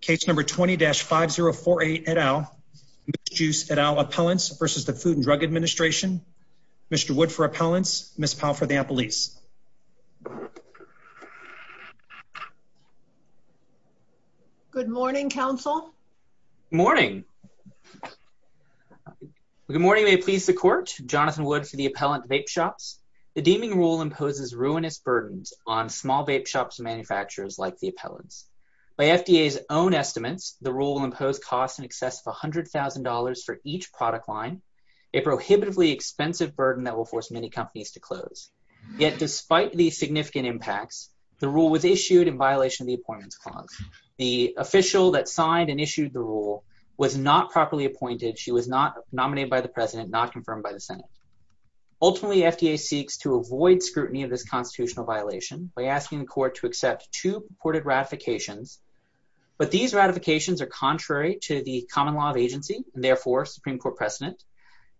Case number 20-5048 et al, Moose Jooce et al Appellants v. the Food and Drug Administration. Mr. Wood for Appellants, Ms. Powell for the Appellees. Good morning, counsel. Morning. Good morning, may it please the court. Jonathan Wood for the Appellant Vape Shops. The deeming rule imposes ruinous burdens on small vape shops and manufacturers like the Appellants. By FDA's own estimates, the rule will impose costs in excess of $100,000 for each product line, a prohibitively expensive burden that will force many companies to close. Yet despite the significant impacts, the rule was issued in violation of the Appointments Clause. The official that signed and issued the rule was not properly appointed. She was not nominated by the President, not confirmed by the Senate. Ultimately, FDA seeks to avoid scrutiny of this constitutional violation by asking the But these ratifications are contrary to the common law of agency, and therefore Supreme Court precedent.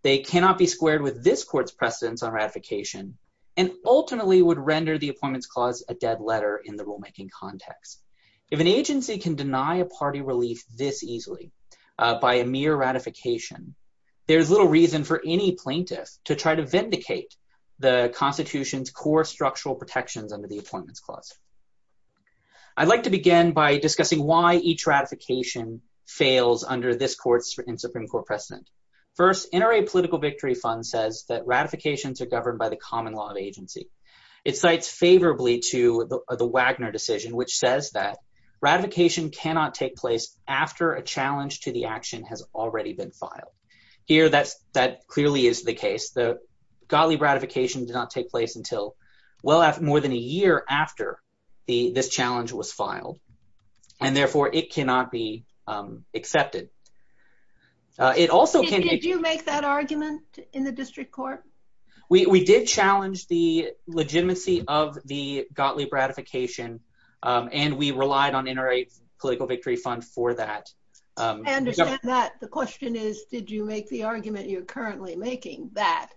They cannot be squared with this court's precedence on ratification, and ultimately would render the Appointments Clause a dead letter in the rulemaking context. If an agency can deny a party relief this easily by a mere ratification, there's little reason for any plaintiff to try to vindicate the Constitution's core structural protections under the Appointments Clause. I'd like to begin by discussing why each ratification fails under this court's Supreme Court precedent. First, NRA Political Victory Fund says that ratifications are governed by the common law of agency. It cites favorably to the Wagner decision, which says that ratification cannot take place after a challenge to the action has already been filed. Here, that clearly is the case. The Gottlieb ratification did not take place until more than a year after this challenge was filed, and therefore it cannot be accepted. It also can- Did you make that argument in the district court? We did challenge the legitimacy of the Gottlieb ratification, and we relied on NRA Political Victory Fund for that. I understand that. The question is, did you make the argument you're currently making that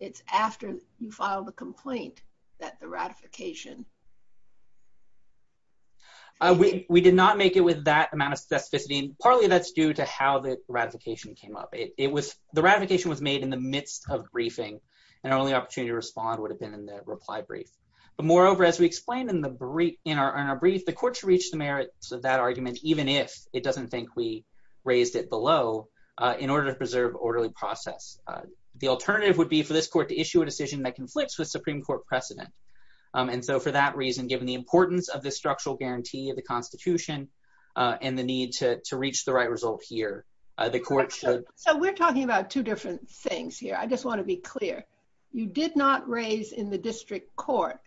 it's after you filed a complaint? That the ratification- We did not make it with that amount of specificity, and partly that's due to how the ratification came up. The ratification was made in the midst of briefing, and our only opportunity to respond would have been in the reply brief. But moreover, as we explained in our brief, the court should reach the merits of that argument, even if it doesn't think we raised it below, in order to preserve orderly process. The alternative would be for this court to issue a decision that conflicts with Supreme Court precedent. And so for that reason, given the importance of the structural guarantee of the constitution and the need to reach the right result here, the court should- So we're talking about two different things here. I just want to be clear. You did not raise in the district court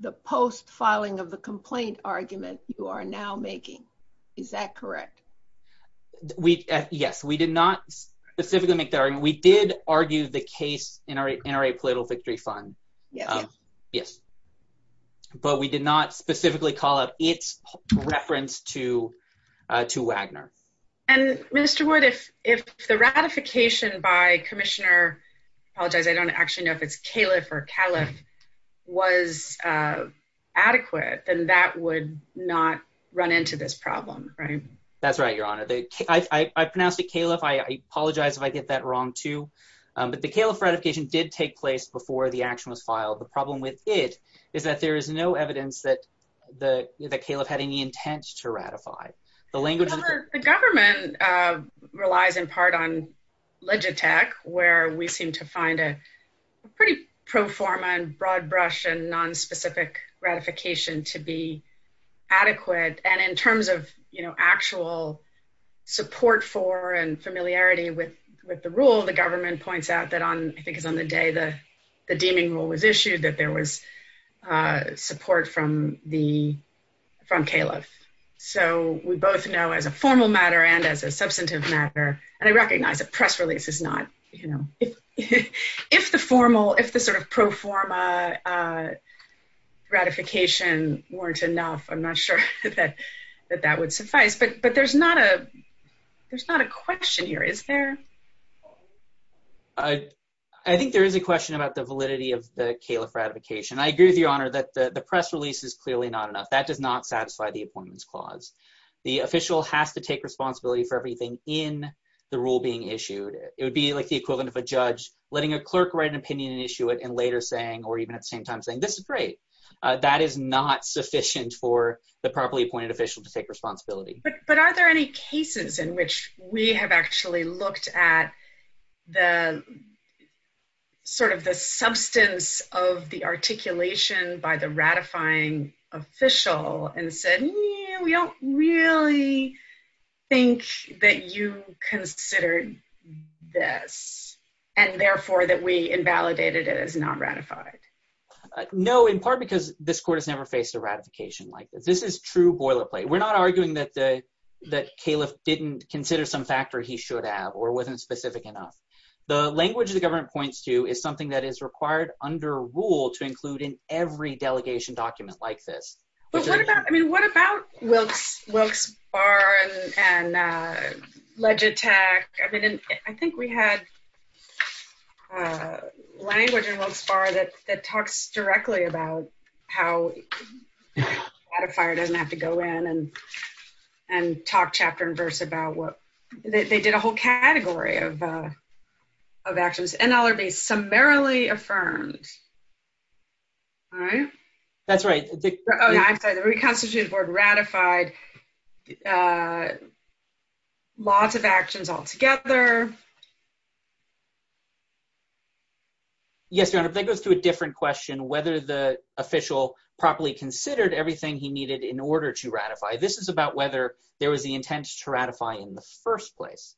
the post-filing of the complaint argument you are now making. Is that correct? Yes, we did not specifically make that argument. We did argue the case in our NRA Political Victory Fund. Yes. But we did not specifically call out its reference to Wagner. And Mr. Wood, if the ratification by Commissioner- I apologize, I don't actually know if it's Califf or Calif- was adequate, then that would not run into this problem, right? That's right, Your Honor. I pronounced it Califf. I apologize if I get that wrong too. But the Califf ratification did take place before the action was filed. The problem with it is that there is no evidence that Califf had any intent to ratify. The language- The government relies in part on Legitech, where we seem to find a pretty pro forma and broad brush and nonspecific ratification to be adequate. And in terms of actual support for and familiarity with the rule, the government points out that on- I think it's on the day the deeming rule was issued, that there was support from Califf. So we both know as a formal matter and as a substantive matter, and I recognize a press release is not- If the formal, if the sort of pro forma ratification weren't enough, I'm not sure that that would suffice. But there's not a question here, is there? I think there is a question about the validity of the Califf ratification. I agree with you, Your Honor, that the press release is clearly not enough. That does not satisfy the Appointments Clause. The official has to take responsibility for everything in the rule being issued. It would be like the equivalent of a judge letting a clerk write an opinion and issue it, and later saying, or even at the same time saying, this is great. That is not sufficient for the properly appointed official to take responsibility. But are there any cases in which we have actually looked at the sort of the substance of the articulation by the ratifying official and said, we don't really think that you considered this, and therefore that we invalidated it as not ratified? No, in part because this Court has never faced a ratification like this. This is true boilerplate. We're not arguing that Califf didn't consider some factor he should have, or wasn't specific enough. The language the government points to is something that is required under rule to include in every delegation document like this. But what about, I mean, what about Wilkes Barre and Legitech? I think we had language in Wilkes Barre that talks directly about how a ratifier doesn't have to go in and talk chapter and verse about what, they did a whole category of actions. NLRB summarily affirmed, right? That's right. I'm sorry, the reconstituted board ratified lots of actions altogether. Yes, Your Honor, that goes to a different question, whether the official properly considered everything he needed in order to ratify. This is about whether there was the intent to ratify in the first place.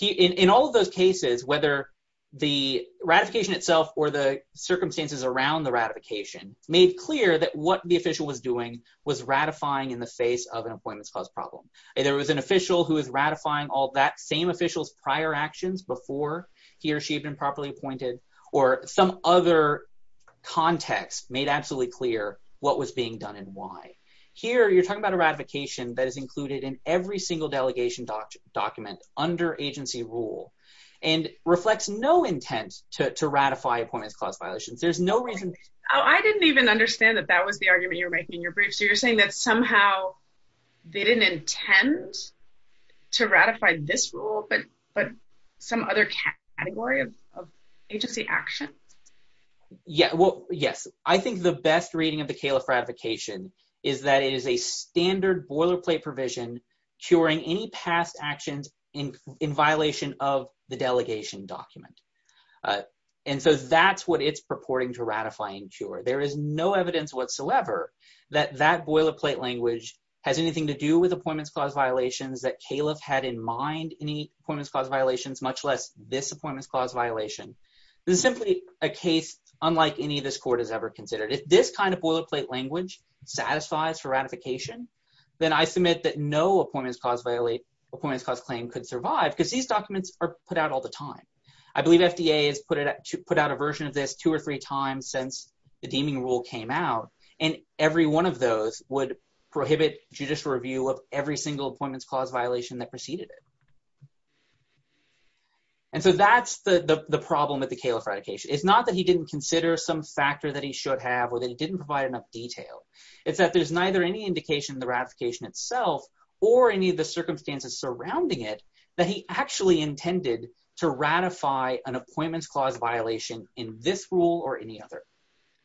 In all of those cases, whether the ratification itself or the circumstances around the ratification made clear that what the official was doing was ratifying in the face of an Appointments Clause problem. There was an official who is ratifying all that same official's prior actions before he or she had been properly appointed, or some other context made absolutely clear what was being done and why. Here, you're talking about a ratification that is included in every single delegation document under agency rule and reflects no intent to ratify Appointments Clause violations. Oh, I didn't even understand that that was the argument you were making in your brief. So you're saying that somehow they didn't intend to ratify this rule, but some other category of agency action? Yeah, well, yes. I think the best reading of the Califf ratification is that it is a standard boilerplate provision curing any past actions in violation of the delegation document. And so that's what it's purporting to ratifying cure. There is no evidence whatsoever that that boilerplate language has anything to do with Appointments Clause violations that Califf had in mind any Appointments Clause violations, much less this Appointments Clause violation. This is simply a case unlike any this court has ever considered. If this kind of boilerplate language satisfies for ratification, then I submit that no Appointments Clause claim could survive because these documents are put out all the time. I believe FDA has put out a version of this two or three times since the deeming rule came out, and every one of those would prohibit judicial review of every single Appointments Clause violation that preceded it. And so that's the problem with the Califf ratification. It's not that he didn't consider some factor that he should have or that he didn't provide enough detail. It's that there's neither any indication in the ratification itself or any of the circumstances surrounding it that he actually intended to ratify an Appointments Clause violation in this rule or any other.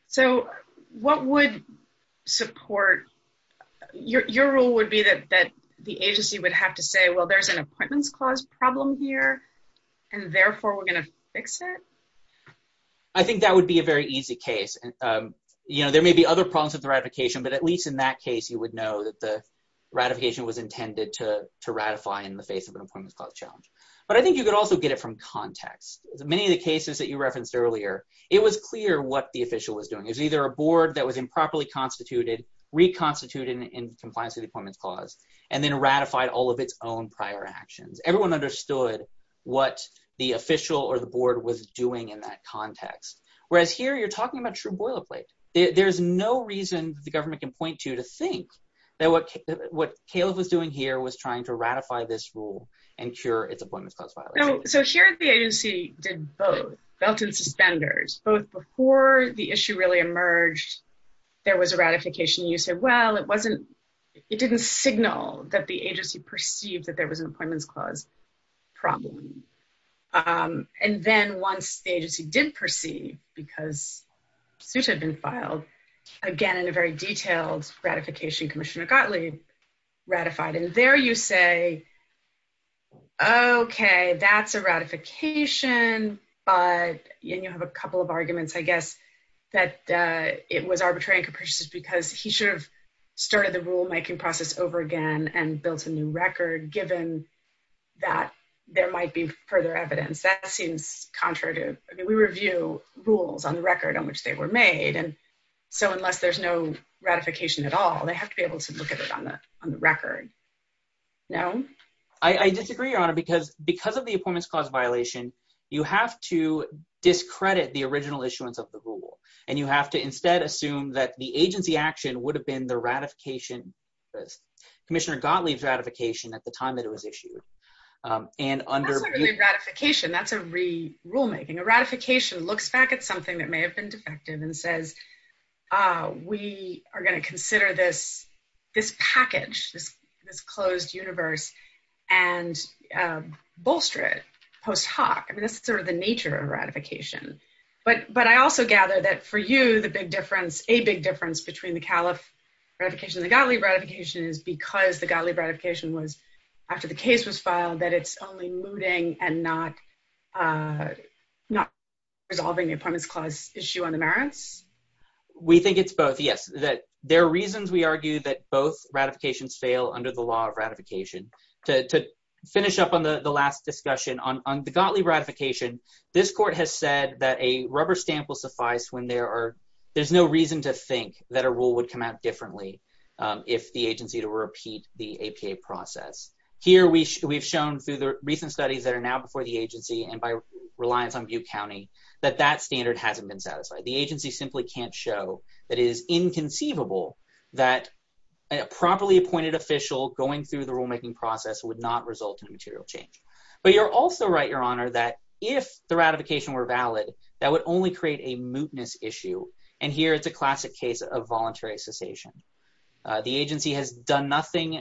So what would support... Your rule would be that the agency would have to say, well, there's an Appointments Clause problem here, and therefore we're going to fix it? I think that would be a very easy case. You know, there may be other problems with the ratification, but at least in that case, you would know that the ratification was intended to ratify in the face of an Appointments Clause challenge. But I think you could also get it from context. Many of the cases that you referenced earlier, it was clear what the official was doing. It was either a board that was improperly constituted, reconstituted in compliance with the Appointments Clause, and then ratified all of its own prior actions. Everyone understood what the official or the board was doing in that context. Whereas here, you're talking about true boilerplate. There's no reason the government can point to to think that what Caleb was doing here was trying to ratify this rule and cure its Appointments Clause violation. So here, the agency did both. Belt and suspenders. Both before the issue really emerged, there was a ratification. You said, well, it didn't signal that the agency perceived that there was an Appointments Clause problem. And then once the agency did perceive, because suits had been filed, again, in a very detailed ratification, Commissioner Gottlieb ratified. And there you say, okay, that's a ratification. But you have a couple of arguments, I guess, that it was arbitrary and capricious because he should have started the rule-making process over again and built a new record, given that there might be further evidence. That seems contrary to... I mean, we review rules on the record on which they were made. And so unless there's no ratification at all, they have to be able to look at it on the record. I disagree, Your Honor, because of the Appointments Clause violation, you have to discredit the original issuance of the rule. And you have to instead assume that the agency action would have been the ratification. Commissioner Gottlieb's ratification at the time that it was issued. And under... That's not really a ratification. That's a re-rule-making. A ratification looks back at something that may have been defective and says, we are going to consider this package, this closed universe and bolster it post hoc. I mean, that's sort of the nature of ratification. But I also gather that for you, the big difference, a big difference between the Califf ratification and the Gottlieb ratification is because the Gottlieb ratification was, after the case was filed, that it's only mooting and not resolving the Appointments Clause issue on the merits. We think it's both, yes. That there are reasons we argue that both ratifications fail under the law of ratification. To finish up on the last discussion, on the Gottlieb ratification, this court has said that a rubber stamp will suffice when there's no reason to think that a rule would come out differently if the agency were to repeat the APA process. Here, we've shown through the recent studies that are now before the agency and by reliance on Butte County, that that standard hasn't been satisfied. The agency simply can't show that it is inconceivable that a properly appointed official going through the rulemaking process would not result in a material change. But you're also right, Your Honor, that if the ratification were valid, that would only create a mootness issue. And here, it's a classic case of voluntary cessation. The agency has done nothing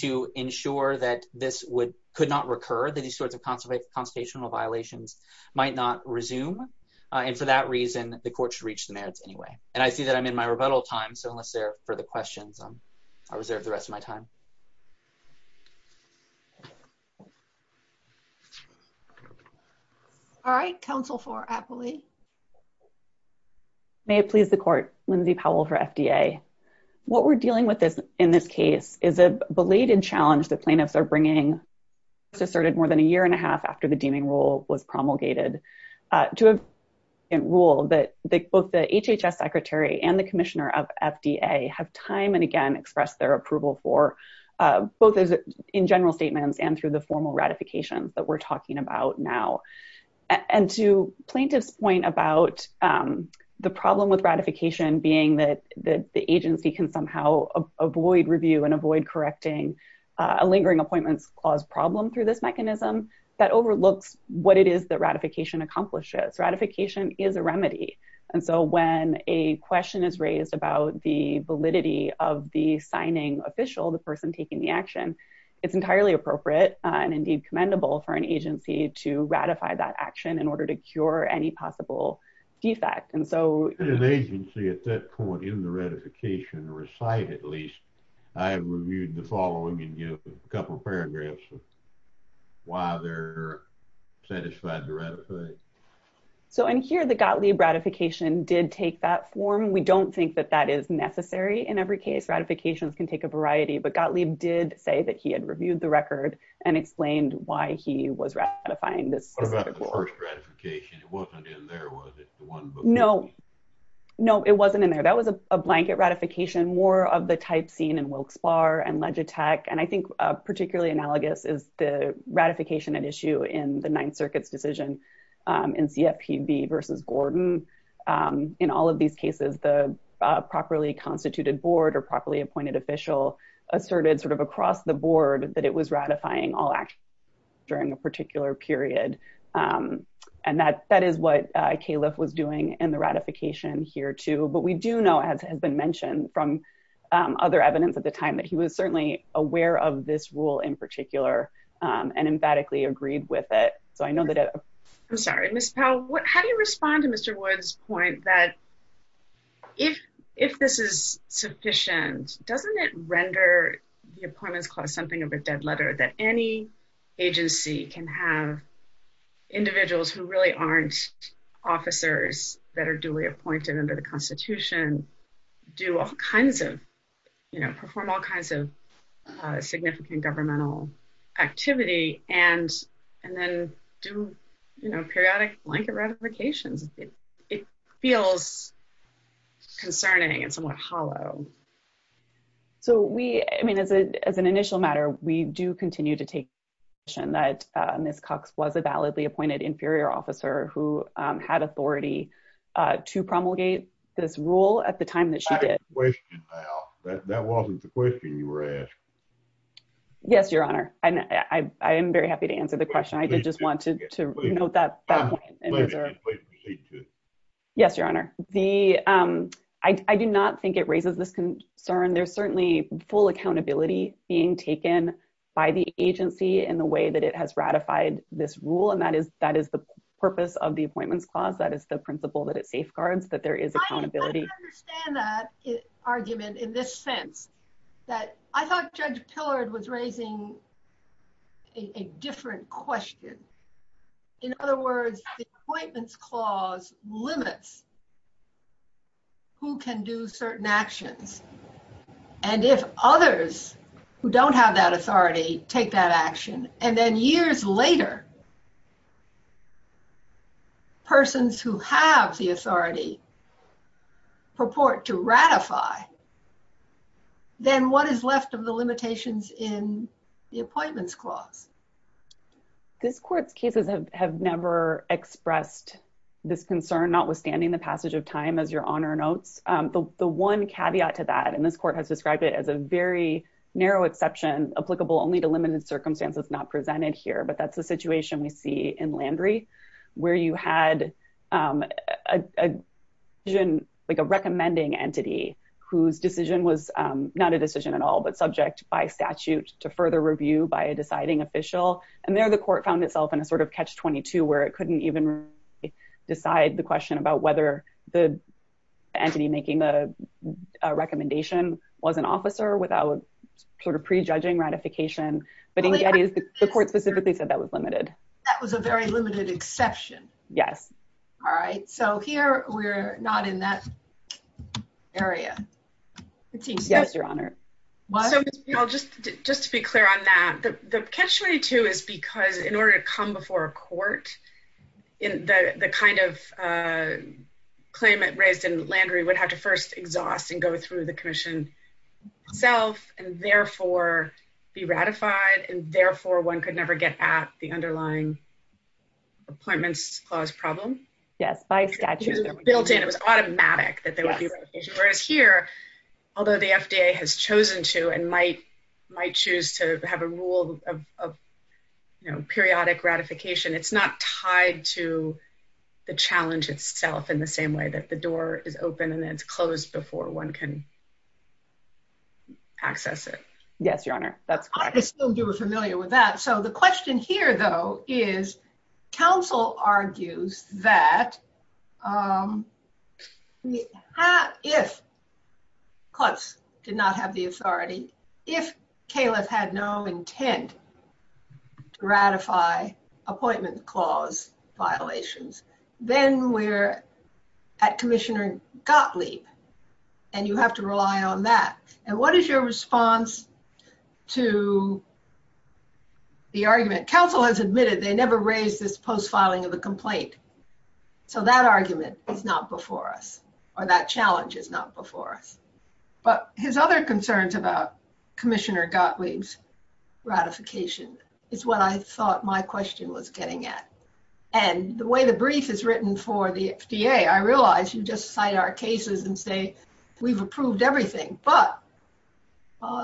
to ensure that this could not recur, that these sorts of constitutional violations might not resume. And for that reason, the court should reach the merits anyway. And I see that I'm in my rebuttal time. So unless there are further questions, I'll reserve the rest of my time. All right. Counsel for Apley. May it please the court. Lindsay Powell for FDA. What we're dealing with in this case is a belated challenge that plaintiffs are bringing. It's asserted more than a year and a half after the deeming rule was promulgated to a rule that both the HHS secretary and the commissioner of FDA have time and again expressed their approval for, both in general statements and through the formal ratifications that we're talking about now. And to plaintiff's point about the problem with ratification being that the agency can somehow avoid review and avoid correcting a lingering appointments clause problem through this mechanism, that overlooks what it is that ratification accomplishes. Ratification is a remedy. And so when a question is raised about the validity of the signing official, the person taking the action, it's entirely appropriate and indeed commendable for an agency to ratify that action in order to cure any possible defect. And so- In an agency at that point in the ratification, recite at least, I have reviewed the following couple of paragraphs of why they're satisfied to ratify. So in here, the Gottlieb ratification did take that form. We don't think that that is necessary. In every case, ratifications can take a variety, but Gottlieb did say that he had reviewed the record and explained why he was ratifying this. What about the first ratification? It wasn't in there, was it? The one book- No, no, it wasn't in there. That was a blanket ratification, more of the type seen in Wilkes-Barre and Legitech and I think particularly analogous is the ratification at issue in the Ninth Circuit's decision in CFPB versus Gordon. In all of these cases, the properly constituted board or properly appointed official asserted sort of across the board that it was ratifying all actions during a particular period. And that is what Califf was doing in the ratification here too. But we do know as has been mentioned from other evidence at the time that he was certainly aware of this rule in particular and emphatically agreed with it. So I know that- I'm sorry, Ms. Powell, how do you respond to Mr. Wood's point that if this is sufficient, doesn't it render the appointments clause something of a dead letter that any agency can have individuals who really aren't officers that are duly appointed under the constitution do all kinds of- perform all kinds of significant governmental activity and then do periodic blanket ratifications? It feels concerning and somewhat hollow. So we, I mean, as an initial matter, we do continue to take the position that Ms. Cox was a validly appointed inferior officer who had authority to promulgate this rule at the time that she did. I have a question, Ms. Powell. That wasn't the question you were asking. Yes, Your Honor. I am very happy to answer the question. I did just want to note that point. Please proceed to it. Yes, Your Honor. I do not think it raises this concern. There's certainly full accountability being taken by the agency in the way that it has ratified this rule. That is the purpose of the Appointments Clause. That is the principle that it safeguards that there is accountability. I understand that argument in this sense that I thought Judge Pillard was raising a different question. In other words, the Appointments Clause limits who can do certain actions. And if others who don't have that authority take that action, and then years later, persons who have the authority purport to ratify, then what is left of the limitations in the Appointments Clause? This Court's cases have never expressed this concern, notwithstanding the passage of time, as Your Honor notes. The one caveat to that, and this Court has described it as a very narrow exception applicable only to limited circumstances not presented here, but that's the situation we see in Landry, where you had a decision, like a recommending entity whose decision was not a decision at all, but subject by statute to further review by a deciding official. And there the Court found itself in a sort of catch-22 where it couldn't even decide the question about whether the entity making the recommendation was an officer without sort of prejudging ratification. But in Gettysburg, the Court specifically said that was limited. That was a very limited exception. Yes. All right. So here we're not in that area. Yes, Your Honor. So just to be clear on that, the catch-22 is because in order to come before a court, the kind of claimant raised in Landry would have to first exhaust and go through the Commission. Self and therefore be ratified, and therefore one could never get at the underlying appointments clause problem. Yes, by statute. Built in. It was automatic that there would be ratification. Whereas here, although the FDA has chosen to and might choose to have a rule of periodic ratification, it's not tied to the challenge itself in the same way that the door is open and then it's closed before one can access it. Yes, Your Honor. That's correct. I assume you were familiar with that. So the question here, though, is counsel argues that if courts did not have the authority, if Califf had no intent to ratify appointment clause violations, then we're at Commissioner Gottlieb. And you have to rely on that. And what is your response to the argument? Counsel has admitted they never raised this post-filing of the complaint. So that argument is not before us, or that challenge is not before us. But his other concerns about Commissioner Gottlieb's ratification is what I thought my question was getting at. And the way the brief is written for the FDA, I realize you just cite our cases and say we've approved everything, but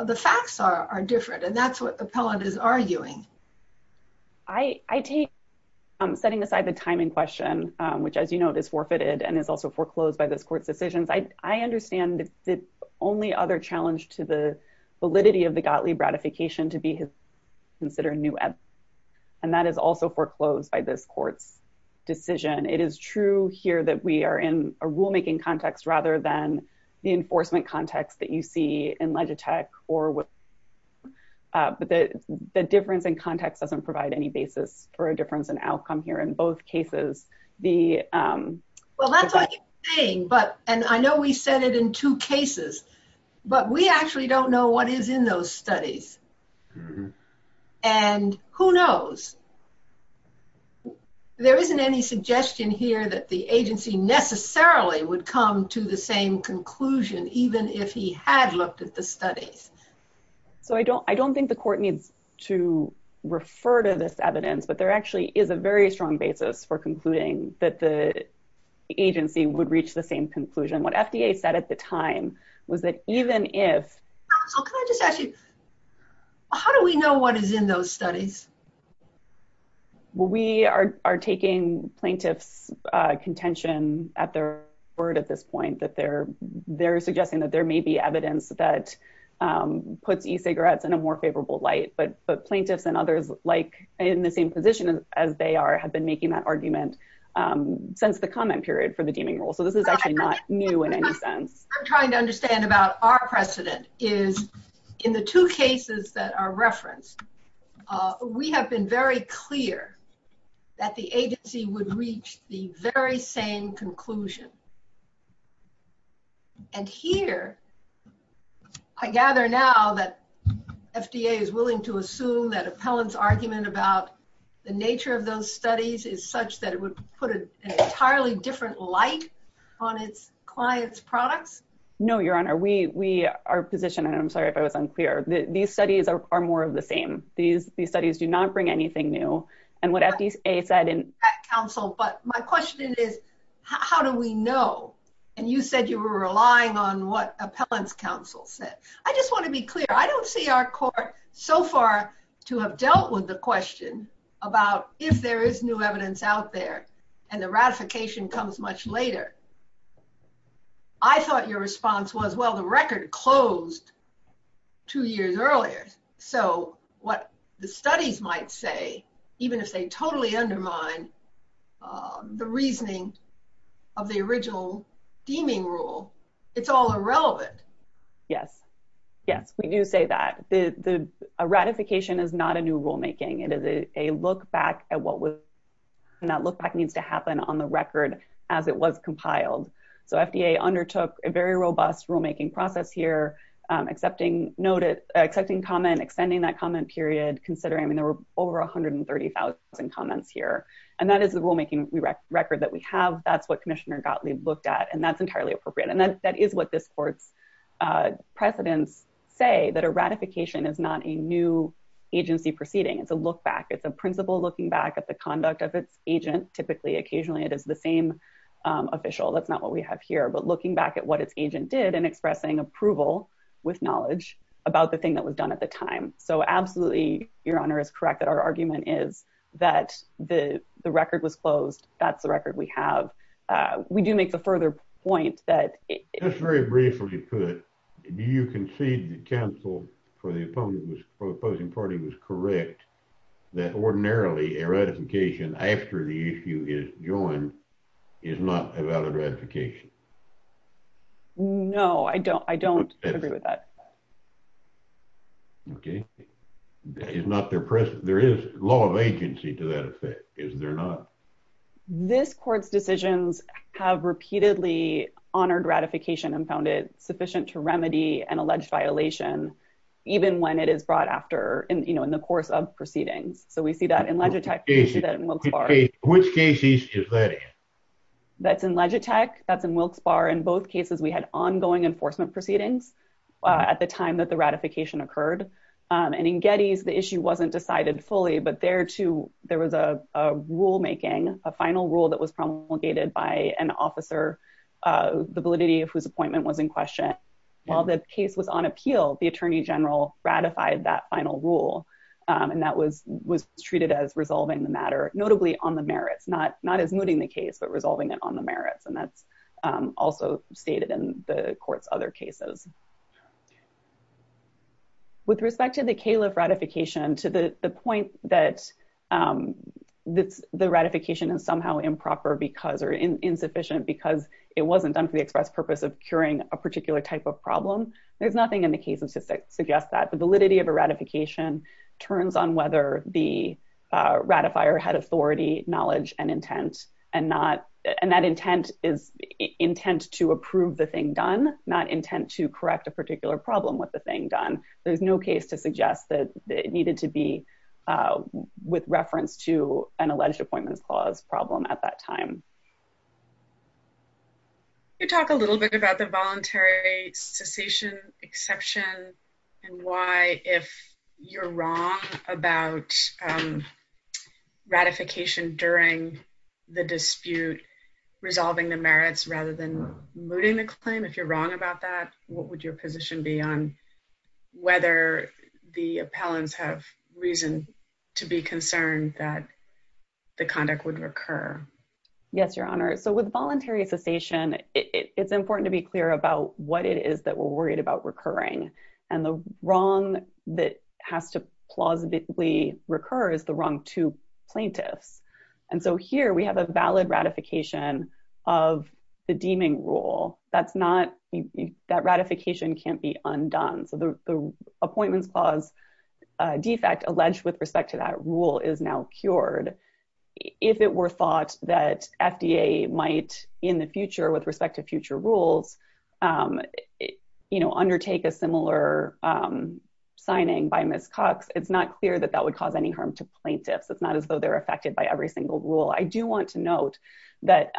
the facts are different. And that's what the appellant is arguing. I take setting aside the timing question, which, as you know, is forfeited and is also foreclosed by this court's decisions. I understand the only other challenge to the validity of the Gottlieb ratification to be considered new evidence. And that is also foreclosed by this court's decision. It is true here that we are in a rulemaking context rather than the enforcement context that you see in Legitech or what. But the difference in context doesn't provide any basis for a difference in outcome here. In both cases, the- Well, that's what you're saying, and I know we said it in two cases, but we actually don't know what is in those studies. And who knows? There isn't any suggestion here that the agency necessarily would come to the same conclusion even if he had looked at the studies. So I don't think the court needs to refer to this evidence, but there actually is a very strong basis for concluding that the agency would reach the same conclusion. What FDA said at the time was that even if- So can I just ask you, how do we know what is in those studies? Well, we are taking plaintiff's contention at their word at this point that they're suggesting that there may be evidence that puts e-cigarettes in a more favorable light, but plaintiffs and others like in the same position as they are have been making that argument since the comment period for the deeming rule. So this is actually not new in any sense. I'm trying to understand about our precedent is in the two cases that are referenced, we have been very clear that the agency would reach the very same conclusion. And here, I gather now that FDA is willing to assume that appellant's argument about the nature of those studies is such that it would put an entirely different light on its client's products? No, Your Honor, we are positioned, and I'm sorry if I was unclear, these studies are more of the same. These studies do not bring anything new. And what FDA said- Counsel, but my question is, how do we know? And you said you were relying on what appellant's counsel said. I just want to be clear. I don't see our court so far to have dealt with the question about if there is new evidence out there and the ratification comes much later. I thought your response was, well, the record closed two years earlier. So what the studies might say, even if they totally undermine the reasoning of the original deeming rule, it's all irrelevant. Yes, yes, we do say that. A ratification is not a new rulemaking. It is a look back at what was- and that look back needs to happen on the record as it was compiled. So FDA undertook a very robust rulemaking process here, accepting comment, extending that comment period, considering there were over 130,000 comments here. And that is the rulemaking record that we have. That's what Commissioner Gottlieb looked at, and that's entirely appropriate. And that is what this court's precedents say, that a ratification is not a new agency proceeding. It's a look back. It's a principle looking back at the conduct of its agent. Typically, occasionally, it is the same official. That's not what we have here. But looking back at what its agent did and expressing approval with knowledge about the thing that was done at the time. So absolutely, Your Honor, is correct that our argument is that the record was closed. That's the record we have. We do make the further point that- Just very briefly put, do you concede that counsel for the opposing party was correct that ordinarily a ratification after the issue is joined is not a valid ratification? No, I don't agree with that. Okay. Is not there- There is law of agency to that effect, is there not? This court's decisions have repeatedly honored ratification and found it sufficient to remedy an alleged violation, even when it is brought after, you know, in the course of proceedings. So we see that in Legitech. We see that in Wilkes-Barre. Which case is that in? That's in Legitech. That's in Wilkes-Barre. In both cases, we had ongoing enforcement proceedings. At the time that the ratification occurred. And in Getty's, the issue wasn't decided fully, but there too, there was a rulemaking, a final rule that was promulgated by an officer, the validity of whose appointment was in question. While the case was on appeal, the attorney general ratified that final rule. And that was treated as resolving the matter, notably on the merits, not as mooting the case, but resolving it on the merits. And that's also stated in the court's other cases. With respect to the Califf ratification, to the point that the ratification is somehow improper because or insufficient because it wasn't done for the express purpose of curing a particular type of problem. There's nothing in the case that suggests that. The validity of a ratification turns on whether the ratifier had authority, knowledge, and intent, and that intent is intent to approve the thing done, not intent to correct a particular problem with the thing done. There's no case to suggest that it needed to be with reference to an alleged appointments clause problem at that time. Can you talk a little bit about the voluntary cessation exception and why if you're wrong about ratification during the dispute, resolving the merits rather than mooting the claim, if you're wrong about that, what would your position be on whether the appellants have reason to be concerned that the conduct would recur? Yes, Your Honor. So with voluntary cessation, it's important to be clear about what it is that we're worried about recurring. And the wrong that has to plausibly recur is the wrong to plaintiffs. And so here we have a valid ratification of the deeming rule. That's not, that ratification can't be undone. So the appointments clause defect alleged with respect to that rule is now cured. If it were thought that FDA might in the future with respect to future rules, you know, undertake a similar signing by Ms. Cox, it's not clear that that would cause any harm to plaintiffs. It's not as though they're affected by every single rule. I do want to note that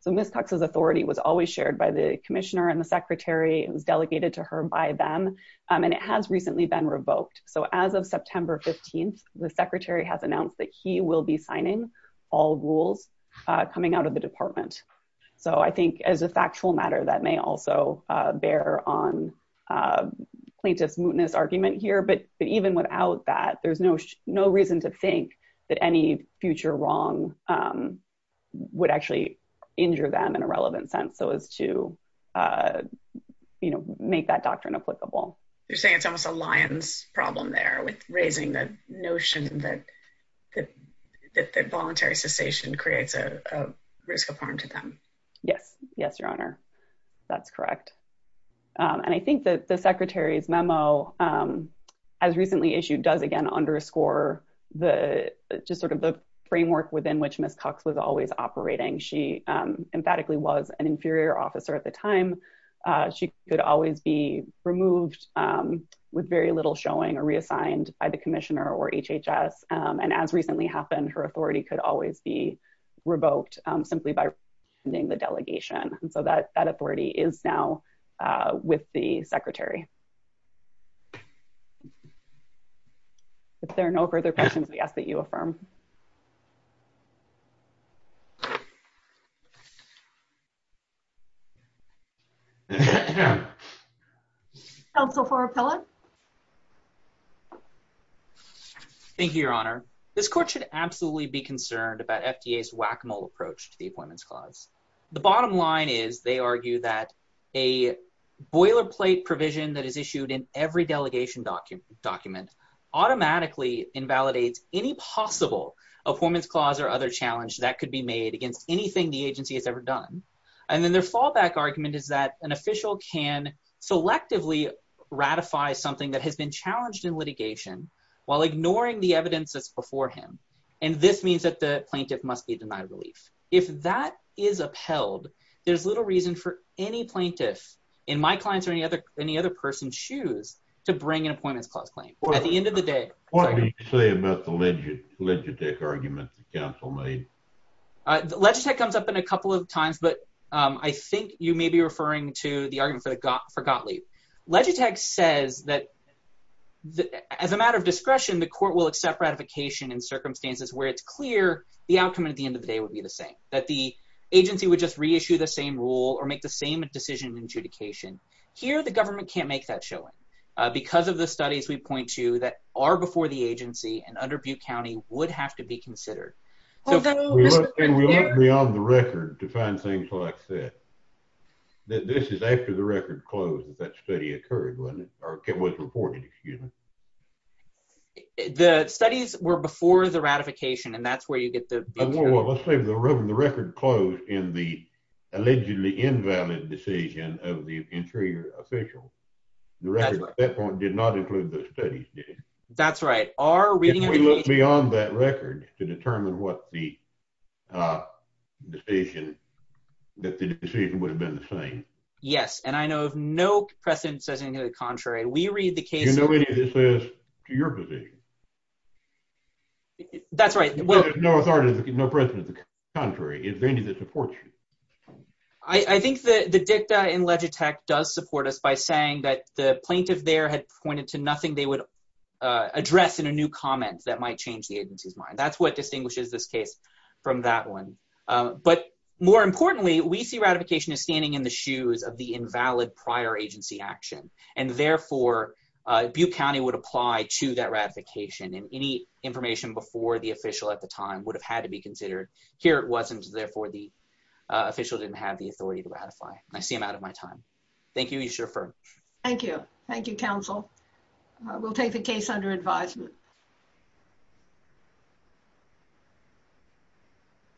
so Ms. Cox's authority was always shared by the commissioner and the secretary. It was delegated to her by them. And it has recently been revoked. So as of September 15th, the secretary has announced that he will be signing all rules coming out of the department. So I think as a factual matter, that may also bear on plaintiff's mootness argument here. But even without that, there's no reason to think that any future wrong would actually injure them in a relevant sense. So as to, you know, make that doctrine applicable. You're saying it's almost a lion's problem there with raising the notion that that voluntary cessation creates a risk of harm to them. Yes. Yes, Your Honor. That's correct. And I think that the secretary's memo as recently issued does again underscore the just sort of the framework within which Ms. Cox was always operating. She emphatically was an inferior officer at the time. She could always be removed with very little showing or reassigned by the commissioner or HHS. And as recently happened, her authority could always be revoked simply by ending the delegation. And so that that authority is now with the secretary. If there are no further questions, we ask that you affirm. Thank you, Your Honor. This court should absolutely be concerned about FDA's whack-a-mole approach to the Appointments Clause. The bottom line is, they argue that a boilerplate provision that is issued in every delegation document automatically invalidates the court should absolutely be concerned about FDA's whack-a-mole approach to the Appointments Clause. The bottom line is, FDA's whack-a-mole approach to the Appointments Clause invalidates anything the agency has ever done. And then their fallback argument is that an official can selectively ratify something that has been challenged in litigation while ignoring the evidence that's before him. And this means that the plaintiff must be denied relief. If that is upheld, there's little reason for any plaintiff in my client's or any other person's shoes to bring an Appointments Clause claim. At the end of the day- What would you say about the Legitech argument that counsel made? Legitech comes up in a couple of times, but I think you may be referring to the argument for Gottlieb. Legitech says that as a matter of discretion, the court will accept ratification in circumstances where it's clear the outcome at the end of the day would be the same, that the agency would just reissue the same rule or make the same decision in adjudication. Here, the government can't make that showing because of the studies we point to that are before the agency and under Butte County would have to be considered. We went beyond the record to find things like that. This is after the record closed if that study occurred, wasn't it? Or it was reported, excuse me. The studies were before the ratification and that's where you get the- Well, let's say the record closed in the allegedly invalid decision of the interior official. The record at that point did not include the studies, did it? That's right. If we look beyond that record to determine what the decision, that the decision would have been the same. Yes, and I know if no precedent says anything to the contrary, we read the case- Do you know anything that says to your position? That's right. If there's no authority, no precedent to the contrary, is there anything that supports you? I think that the dicta in Legitech does support us by saying that the plaintiff there had pointed to nothing they would address in a new comment that might change the agency's mind. That's what distinguishes this case from that one. But more importantly, we see ratification as standing in the shoes of the invalid prior agency action. And therefore, Butte County would apply to that ratification and any information before the official at the time would have had to be considered. Here it wasn't, therefore the official didn't have the authority to ratify. I see him out of my time. Thank you. You should refer. Thank you. Thank you, counsel. We'll take the case under advisement.